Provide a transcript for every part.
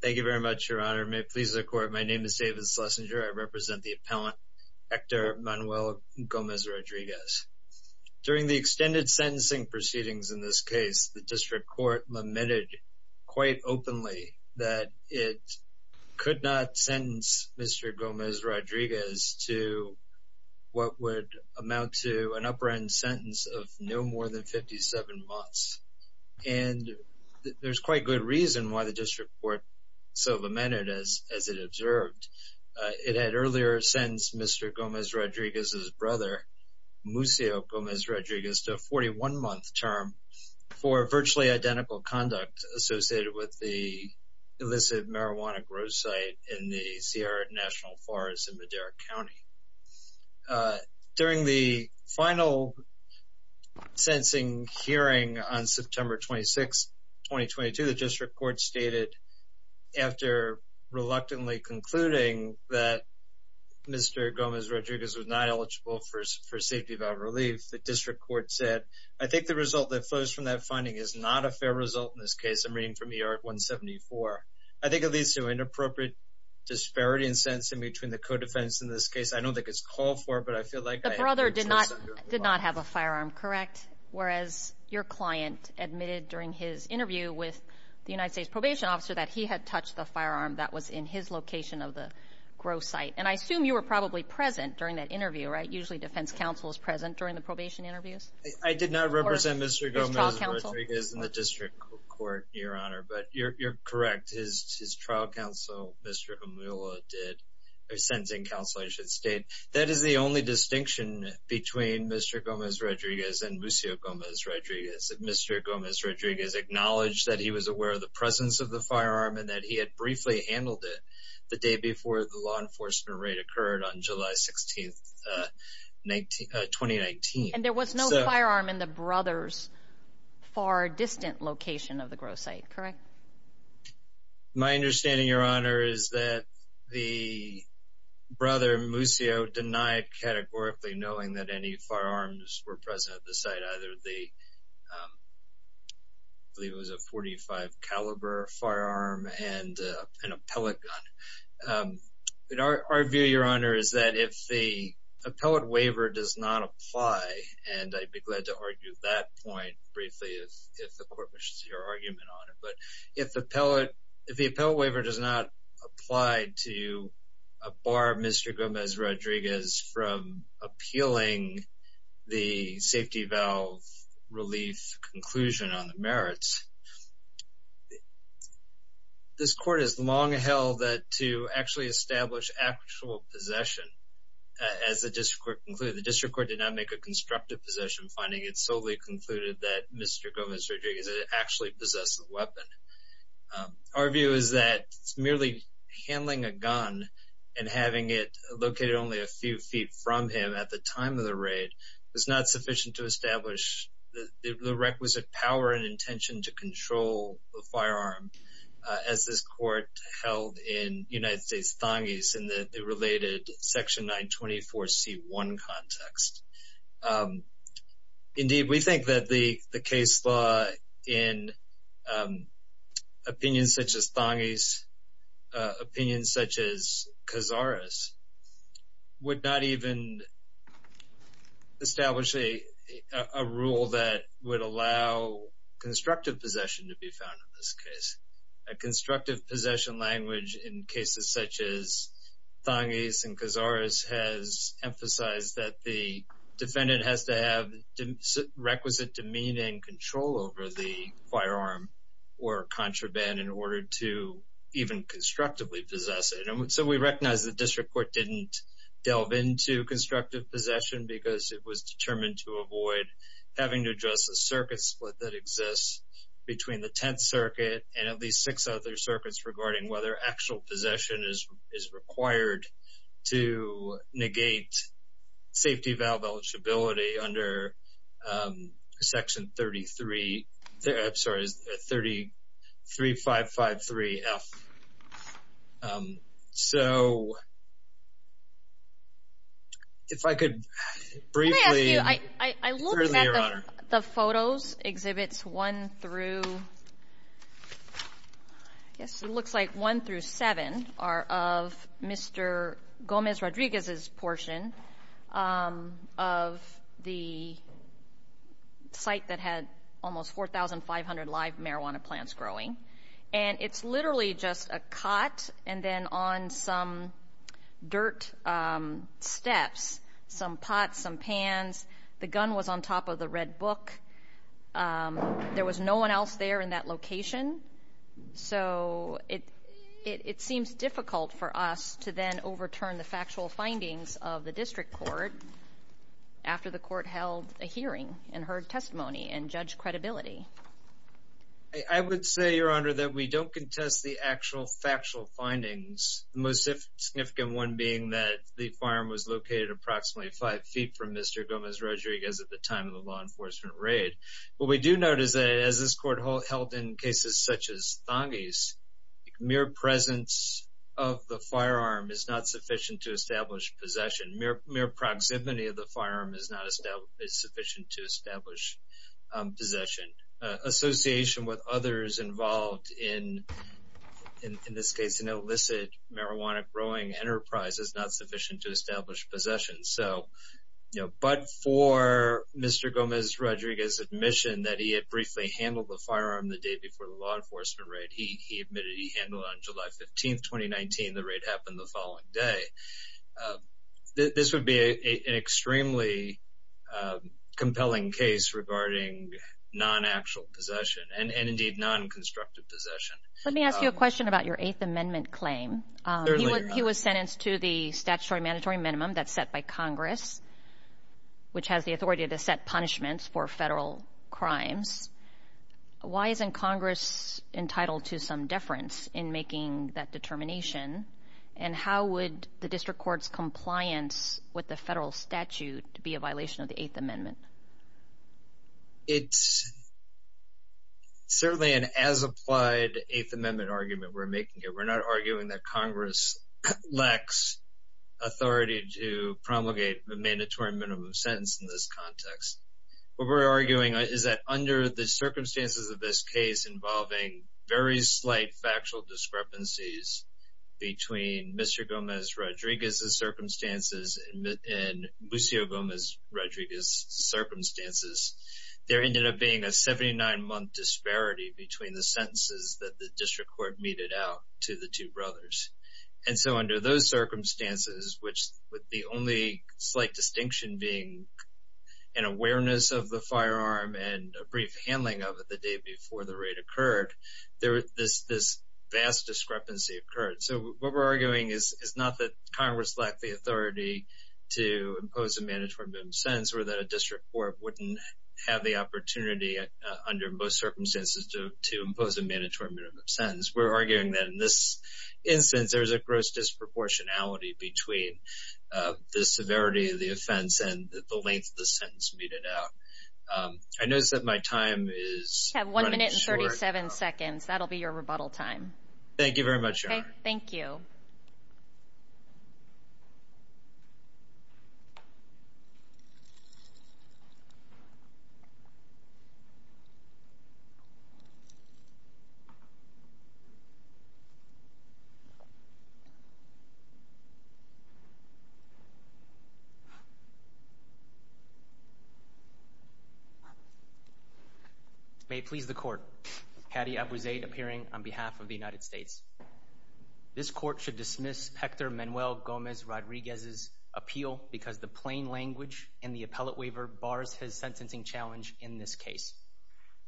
Thank you very much, Your Honor. May it please the Court, my name is David Schlesinger. I represent the appellant Hector Manuel Gomez Rodriguez. During the extended sentencing proceedings in this case, the District Court lamented quite openly that it could not sentence Mr. Gomez Rodriguez to what would amount to an upper-end sentence of no more than 57 months. And there's quite good reason why the District Court so lamented, as it observed. It had earlier sentenced Mr. Gomez Rodriguez's brother, Muccio Gomez Rodriguez, to a 41-month term for virtually identical conduct associated with the illicit marijuana growth site in the Sierra National Forest in Madera County. During the final sentencing hearing on September 26, 2022, the District Court stated, after reluctantly concluding that Mr. Gomez Rodriguez was not eligible for safety valve relief, the District Court said, I think the result that flows from that finding is not a fair result in this case. I'm reading from ER-174. I think it leads to an inappropriate disparity in sentencing between the co-defendants in this case. I don't think it's called for, but I feel like… The brother did not have a firearm, correct? Whereas your client admitted during his interview with the United States Probation Officer that he had touched the firearm that was in his location of the growth site. And I assume you were probably present during that interview, right? Usually defense counsel is present during the probation interviews? I did not represent Mr. Gomez Rodriguez in the District Court, Your Honor, but you're correct. His trial counsel, Mr. Amula, did a sentencing counsel, I should state. That is the only distinction between Mr. Gomez Rodriguez and Muccio Gomez Rodriguez. Mr. Gomez Rodriguez acknowledged that he was aware of the presence of the firearm and that he had briefly handled it the day before the law enforcement raid occurred on July 16, 2019. And there was no firearm in the brother's far distant location of the growth site, correct? My understanding, Your Honor, is that the brother, Muccio, denied categorically knowing that any firearms were present at the site, either the, I believe it was a .45 caliber firearm and an appellate gun. Our view, Your Honor, is that if the appellate waiver does not apply, and I'd be glad to argue that point briefly if the court wishes your argument on it, but if the appellate waiver does not apply to bar Mr. Gomez Rodriguez from appealing the safety valve relief conclusion on the merits, this court has long held that to actually establish actual possession, as the district court concluded, the district court did not make a constructive possession finding it solely concluded that Mr. Gomez Rodriguez actually possessed the weapon. Our view is that merely handling a gun and having it located only a few feet from him at the time of the raid was not sufficient to establish the requisite power and intention to control the firearm as this court held in United States Thongis in the related Section 924C1 context. Indeed, we think that the case law in opinions such as Thongis, opinions such as Cazares, would not even establish a rule that would allow constructive possession to be found in this case. A constructive possession language in cases such as Thongis and Cazares has emphasized that the defendant has to have requisite demeaning control over the firearm or contraband in order to even constructively possess it. So we recognize the district court didn't delve into constructive possession because it was determined to avoid having to address the circuit split that exists between the Tenth Circuit and at least six other circuits regarding whether actual possession is required to negate safety valve eligibility under Section 33553F. So if I could briefly... Let me ask you, I looked at the photos, Exhibits 1 through 7 are of Mr. Gomez Rodriguez's portion of the site that had almost 4,500 live marijuana plants growing. And it's literally just a cot and then on some dirt steps, some pots, some pans. The gun was on top of the red book. There was no one else there in that location. So it seems difficult for us to then overturn the factual findings of the district court after the court held a hearing and heard testimony and judged credibility. I would say, Your Honor, that we don't contest the actual factual findings, the most significant one being that the firearm was located approximately five feet from Mr. Gomez Rodriguez at the time of the law enforcement raid. What we do note is that as this court held in cases such as Thongy's, mere presence of the firearm is not sufficient to establish possession. Mere proximity of the firearm is sufficient to establish possession. Association with others involved in, in this case, an illicit marijuana growing enterprise is not sufficient to establish possession. So, you know, but for Mr. Gomez Rodriguez's admission that he had briefly handled the firearm the day before the law enforcement raid, he admitted he handled it on July 15, 2019. The raid happened the following day. This would be an extremely compelling case regarding non-actual possession and indeed non-constructive possession. Let me ask you a question about your Eighth Amendment claim. He was sentenced to the statutory mandatory minimum that's set by Congress, which has the authority to set punishments for federal crimes. Why isn't Congress entitled to some deference in making that determination? And how would the district court's compliance with the federal statute be a violation of the Eighth Amendment? It's certainly an as-applied Eighth Amendment argument we're making here. We're not arguing that Congress lacks authority to promulgate a mandatory minimum sentence in this context. What we're arguing is that under the circumstances of this case involving very slight factual discrepancies between Mr. Gomez Rodriguez's circumstances and Lucio Gomez Rodriguez's circumstances, there ended up being a 79-month disparity between the sentences that the district court meted out to the two brothers. And so under those circumstances, which with the only slight distinction being an awareness of the firearm and a brief handling of it the day before the raid occurred, this vast discrepancy occurred. So what we're arguing is not that Congress lacked the authority to impose a mandatory minimum sentence or that a district court wouldn't have the opportunity under most circumstances to impose a mandatory minimum sentence. We're arguing that in this instance, there's a gross disproportionality between the severity of the offense and the length of the sentence meted out. I notice that my time is running short. You have one minute and 37 seconds. That'll be your rebuttal time. Thank you very much. Thank you. This court should dismiss Hector Manuel Gomez Rodriguez's appeal because the plain language in the appellate waiver bars his sentencing challenge in this case.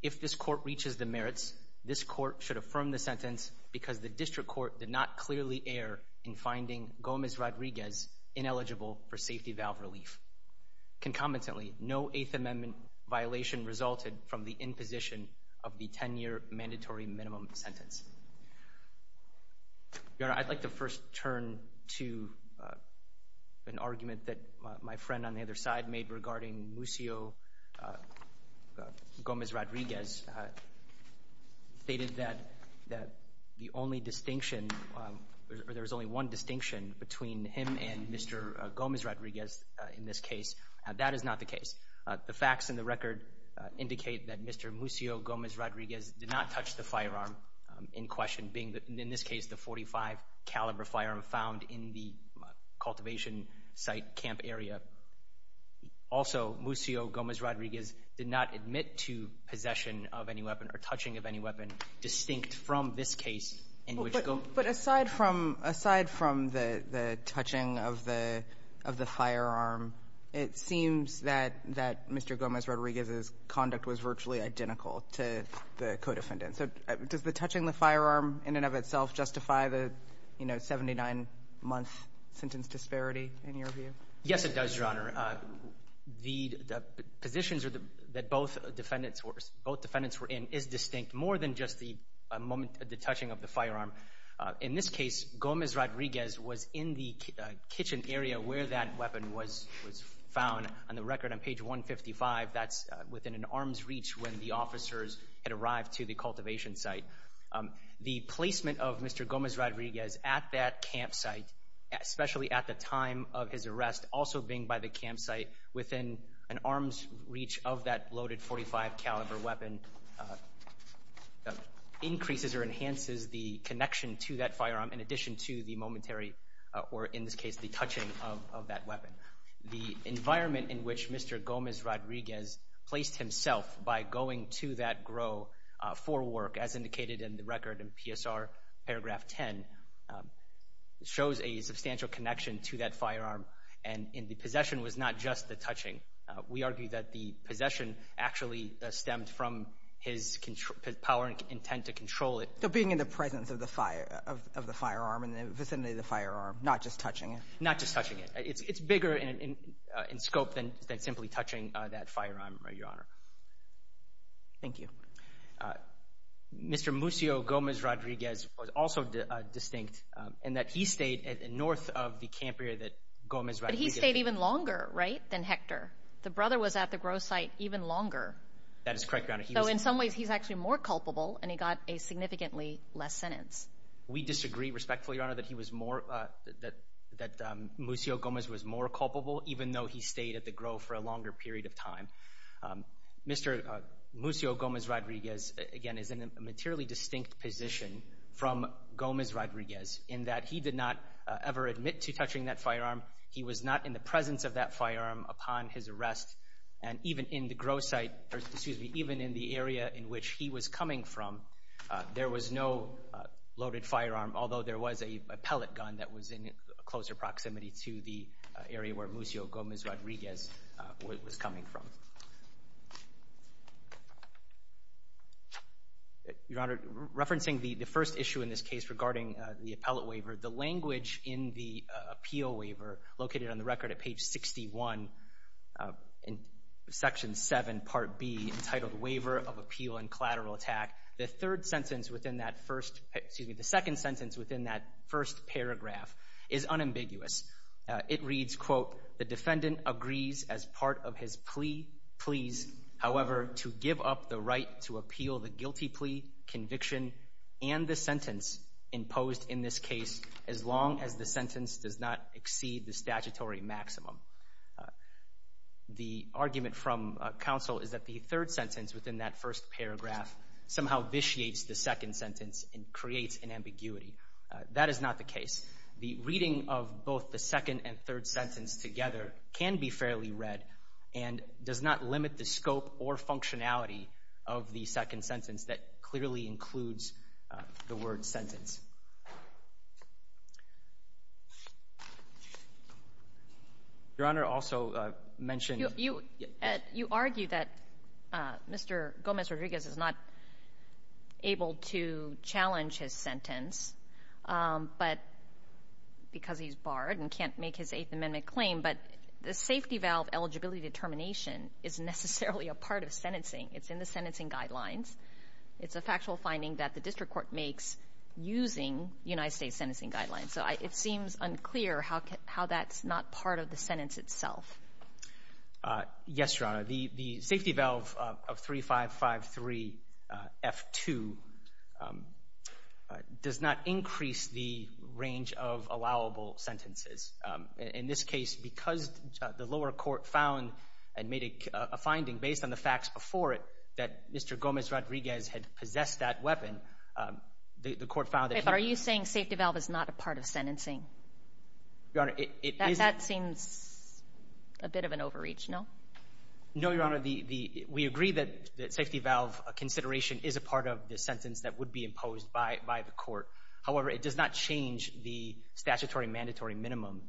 If this court reaches the merits, this court should affirm the sentence because the district court did not clearly err in finding Gomez Rodriguez ineligible for safety valve relief. Concomitantly, no Eighth Amendment violation resulted from the imposition of the 10-year mandatory minimum sentence. Your Honor, I'd like to first turn to an argument that my friend on the other side made regarding Muccio Gomez Rodriguez. He stated that the only distinction or there was only one distinction between him and Mr. Gomez Rodriguez in this case. The facts in the record indicate that Mr. Muccio Gomez Rodriguez did not touch the firearm in question, being, in this case, the .45-caliber firearm found in the cultivation site camp area. Also, Muccio Gomez Rodriguez did not admit to possession of any weapon or touching of any weapon distinct from this case. But aside from the touching of the firearm, it seems that Mr. Gomez Rodriguez's conduct was virtually identical to the co-defendant. So does the touching the firearm in and of itself justify the, you know, 79-month sentence disparity in your view? Your Honor, the positions that both defendants were in is distinct more than just the touching of the firearm. In this case, Gomez Rodriguez was in the kitchen area where that weapon was found. On the record on page 155, that's within an arm's reach when the officers had arrived to the cultivation site. The placement of Mr. Gomez Rodriguez at that campsite, especially at the time of his arrest, also being by the campsite, within an arm's reach of that loaded .45-caliber weapon increases or enhances the connection to that firearm in addition to the momentary, or in this case, the touching of that weapon. The environment in which Mr. Gomez Rodriguez placed himself by going to that grove for work, as indicated in the record in PSR paragraph 10, shows a substantial connection to that firearm. And the possession was not just the touching. We argue that the possession actually stemmed from his power and intent to control it. So being in the presence of the firearm and the vicinity of the firearm, not just touching it? Not just touching it. It's bigger in scope than simply touching that firearm, Your Honor. Thank you. Mr. Muccio Gomez Rodriguez was also distinct in that he stayed north of the camp area that Gomez Rodriguez— But he stayed even longer, right, than Hector. The brother was at the grove site even longer. That is correct, Your Honor. So in some ways, he's actually more culpable, and he got a significantly less sentence. We disagree respectfully, Your Honor, that he was more—that Muccio Gomez was more culpable, even though he stayed at the grove for a longer period of time. Mr. Muccio Gomez Rodriguez, again, is in a materially distinct position from Gomez Rodriguez in that he did not ever admit to touching that firearm. He was not in the presence of that firearm upon his arrest. And even in the area in which he was coming from, there was no loaded firearm, although there was a pellet gun that was in closer proximity to the area where Muccio Gomez Rodriguez was coming from. Your Honor, referencing the first issue in this case regarding the appellate waiver, the language in the appeal waiver located on the record at page 61 in Section 7, Part B, entitled Waiver of Appeal and Collateral Attack, the third sentence within that first—excuse me, the second sentence within that first paragraph is unambiguous. It reads, quote, The defendant agrees as part of his pleas, however, to give up the right to appeal the guilty plea, conviction, and the sentence imposed in this case as long as the sentence does not exceed the statutory maximum. The argument from counsel is that the third sentence within that first paragraph somehow vitiates the second sentence and creates an ambiguity. That is not the case. The reading of both the second and third sentence together can be fairly read and does not limit the scope or functionality of the second sentence that clearly includes the word sentence. Your Honor also mentioned— You argue that Mr. Gomez Rodriguez is not able to challenge his sentence, but because he's barred and can't make his Eighth Amendment claim, but the safety valve eligibility determination isn't necessarily a part of sentencing. It's in the sentencing guidelines. It's a factual finding that the district court makes using United States sentencing guidelines. So it seems unclear how that's not part of the sentence itself. Yes, Your Honor. The safety valve of 3553F2 does not increase the range of allowable sentences. In this case, because the lower court found and made a finding based on the facts before it that Mr. Gomez Rodriguez had possessed that weapon, the court found that he— But are you saying safety valve is not a part of sentencing? Your Honor, it is— That seems a bit of an overreach, no? No, Your Honor. We agree that safety valve consideration is a part of the sentence that would be imposed by the court. However, it does not change the statutory mandatory minimum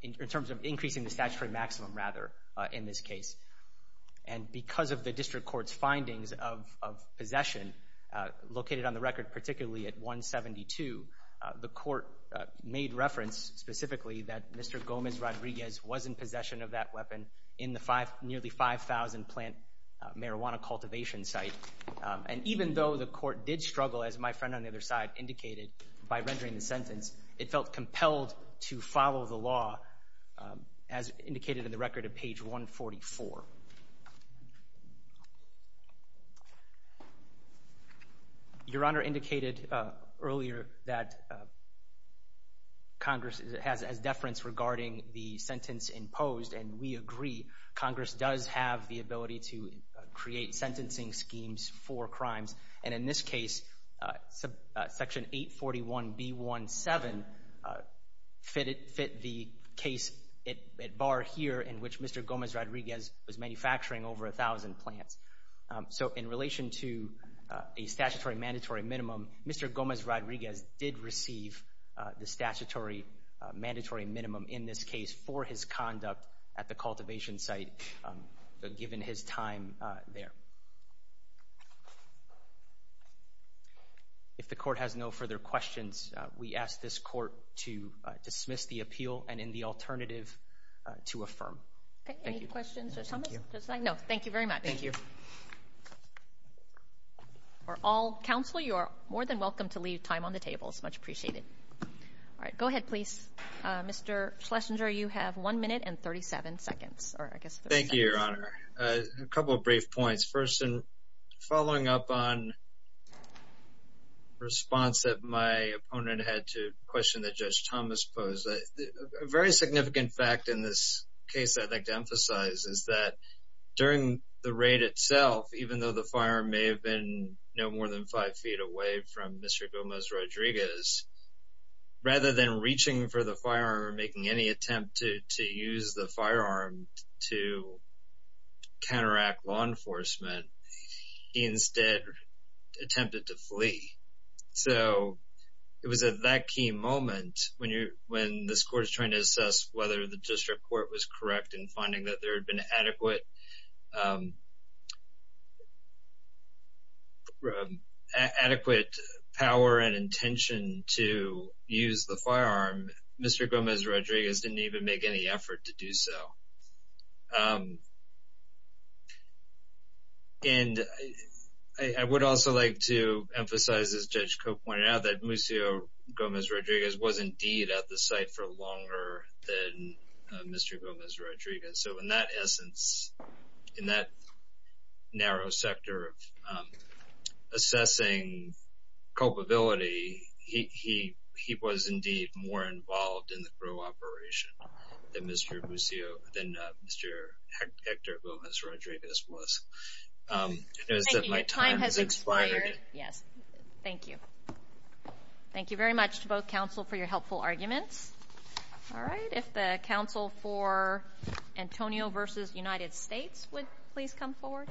in terms of increasing the statutory maximum, rather, in this case. And because of the district court's findings of possession located on the record, particularly at 172, the court made reference specifically that Mr. Gomez Rodriguez was in possession of that weapon in the nearly 5,000 plant marijuana cultivation site. And even though the court did struggle, as my friend on the other side indicated, by rendering the sentence, it felt compelled to follow the law, as indicated in the record at page 144. Your Honor indicated earlier that Congress has deference regarding the sentence imposed, and we agree Congress does have the ability to create sentencing schemes for crimes. And in this case, Section 841B17 fit the case at bar here in which Mr. Gomez Rodriguez was manufacturing over 1,000 plants. So in relation to a statutory mandatory minimum, Mr. Gomez Rodriguez did receive the statutory mandatory minimum in this case for his conduct at the cultivation site given his time there. If the court has no further questions, we ask this court to dismiss the appeal and, in the alternative, to affirm. Any questions, Judge Thomas? No, thank you very much. Thank you. For all counsel, you are more than welcome to leave time on the table. It's much appreciated. Go ahead, please. Mr. Schlesinger, you have one minute and 37 seconds. Thank you, Your Honor. A couple of brief points. First, following up on the response that my opponent had to the question that Judge Thomas posed, a very significant fact in this case I'd like to emphasize is that during the raid itself, even though the firearm may have been no more than five feet away from Mr. Gomez Rodriguez, rather than reaching for the firearm or making any attempt to use the firearm to counteract law enforcement, he instead attempted to flee. So it was at that key moment when this court is trying to assess whether the district court was correct in finding that there had been adequate power and intention to use the firearm, Mr. Gomez Rodriguez didn't even make any effort to do so. And I would also like to emphasize, as Judge Cope pointed out, that Lucio Gomez Rodriguez was indeed at the site for longer than Mr. Gomez Rodriguez. So in that essence, in that narrow sector of assessing culpability, he was indeed more involved in the Crow operation than Mr. Hector Gomez Rodriguez was. Thank you, your time has expired. Yes, thank you. Thank you very much to both counsel for your helpful arguments. All right, if the counsel for Antonio v. United States would please come forward.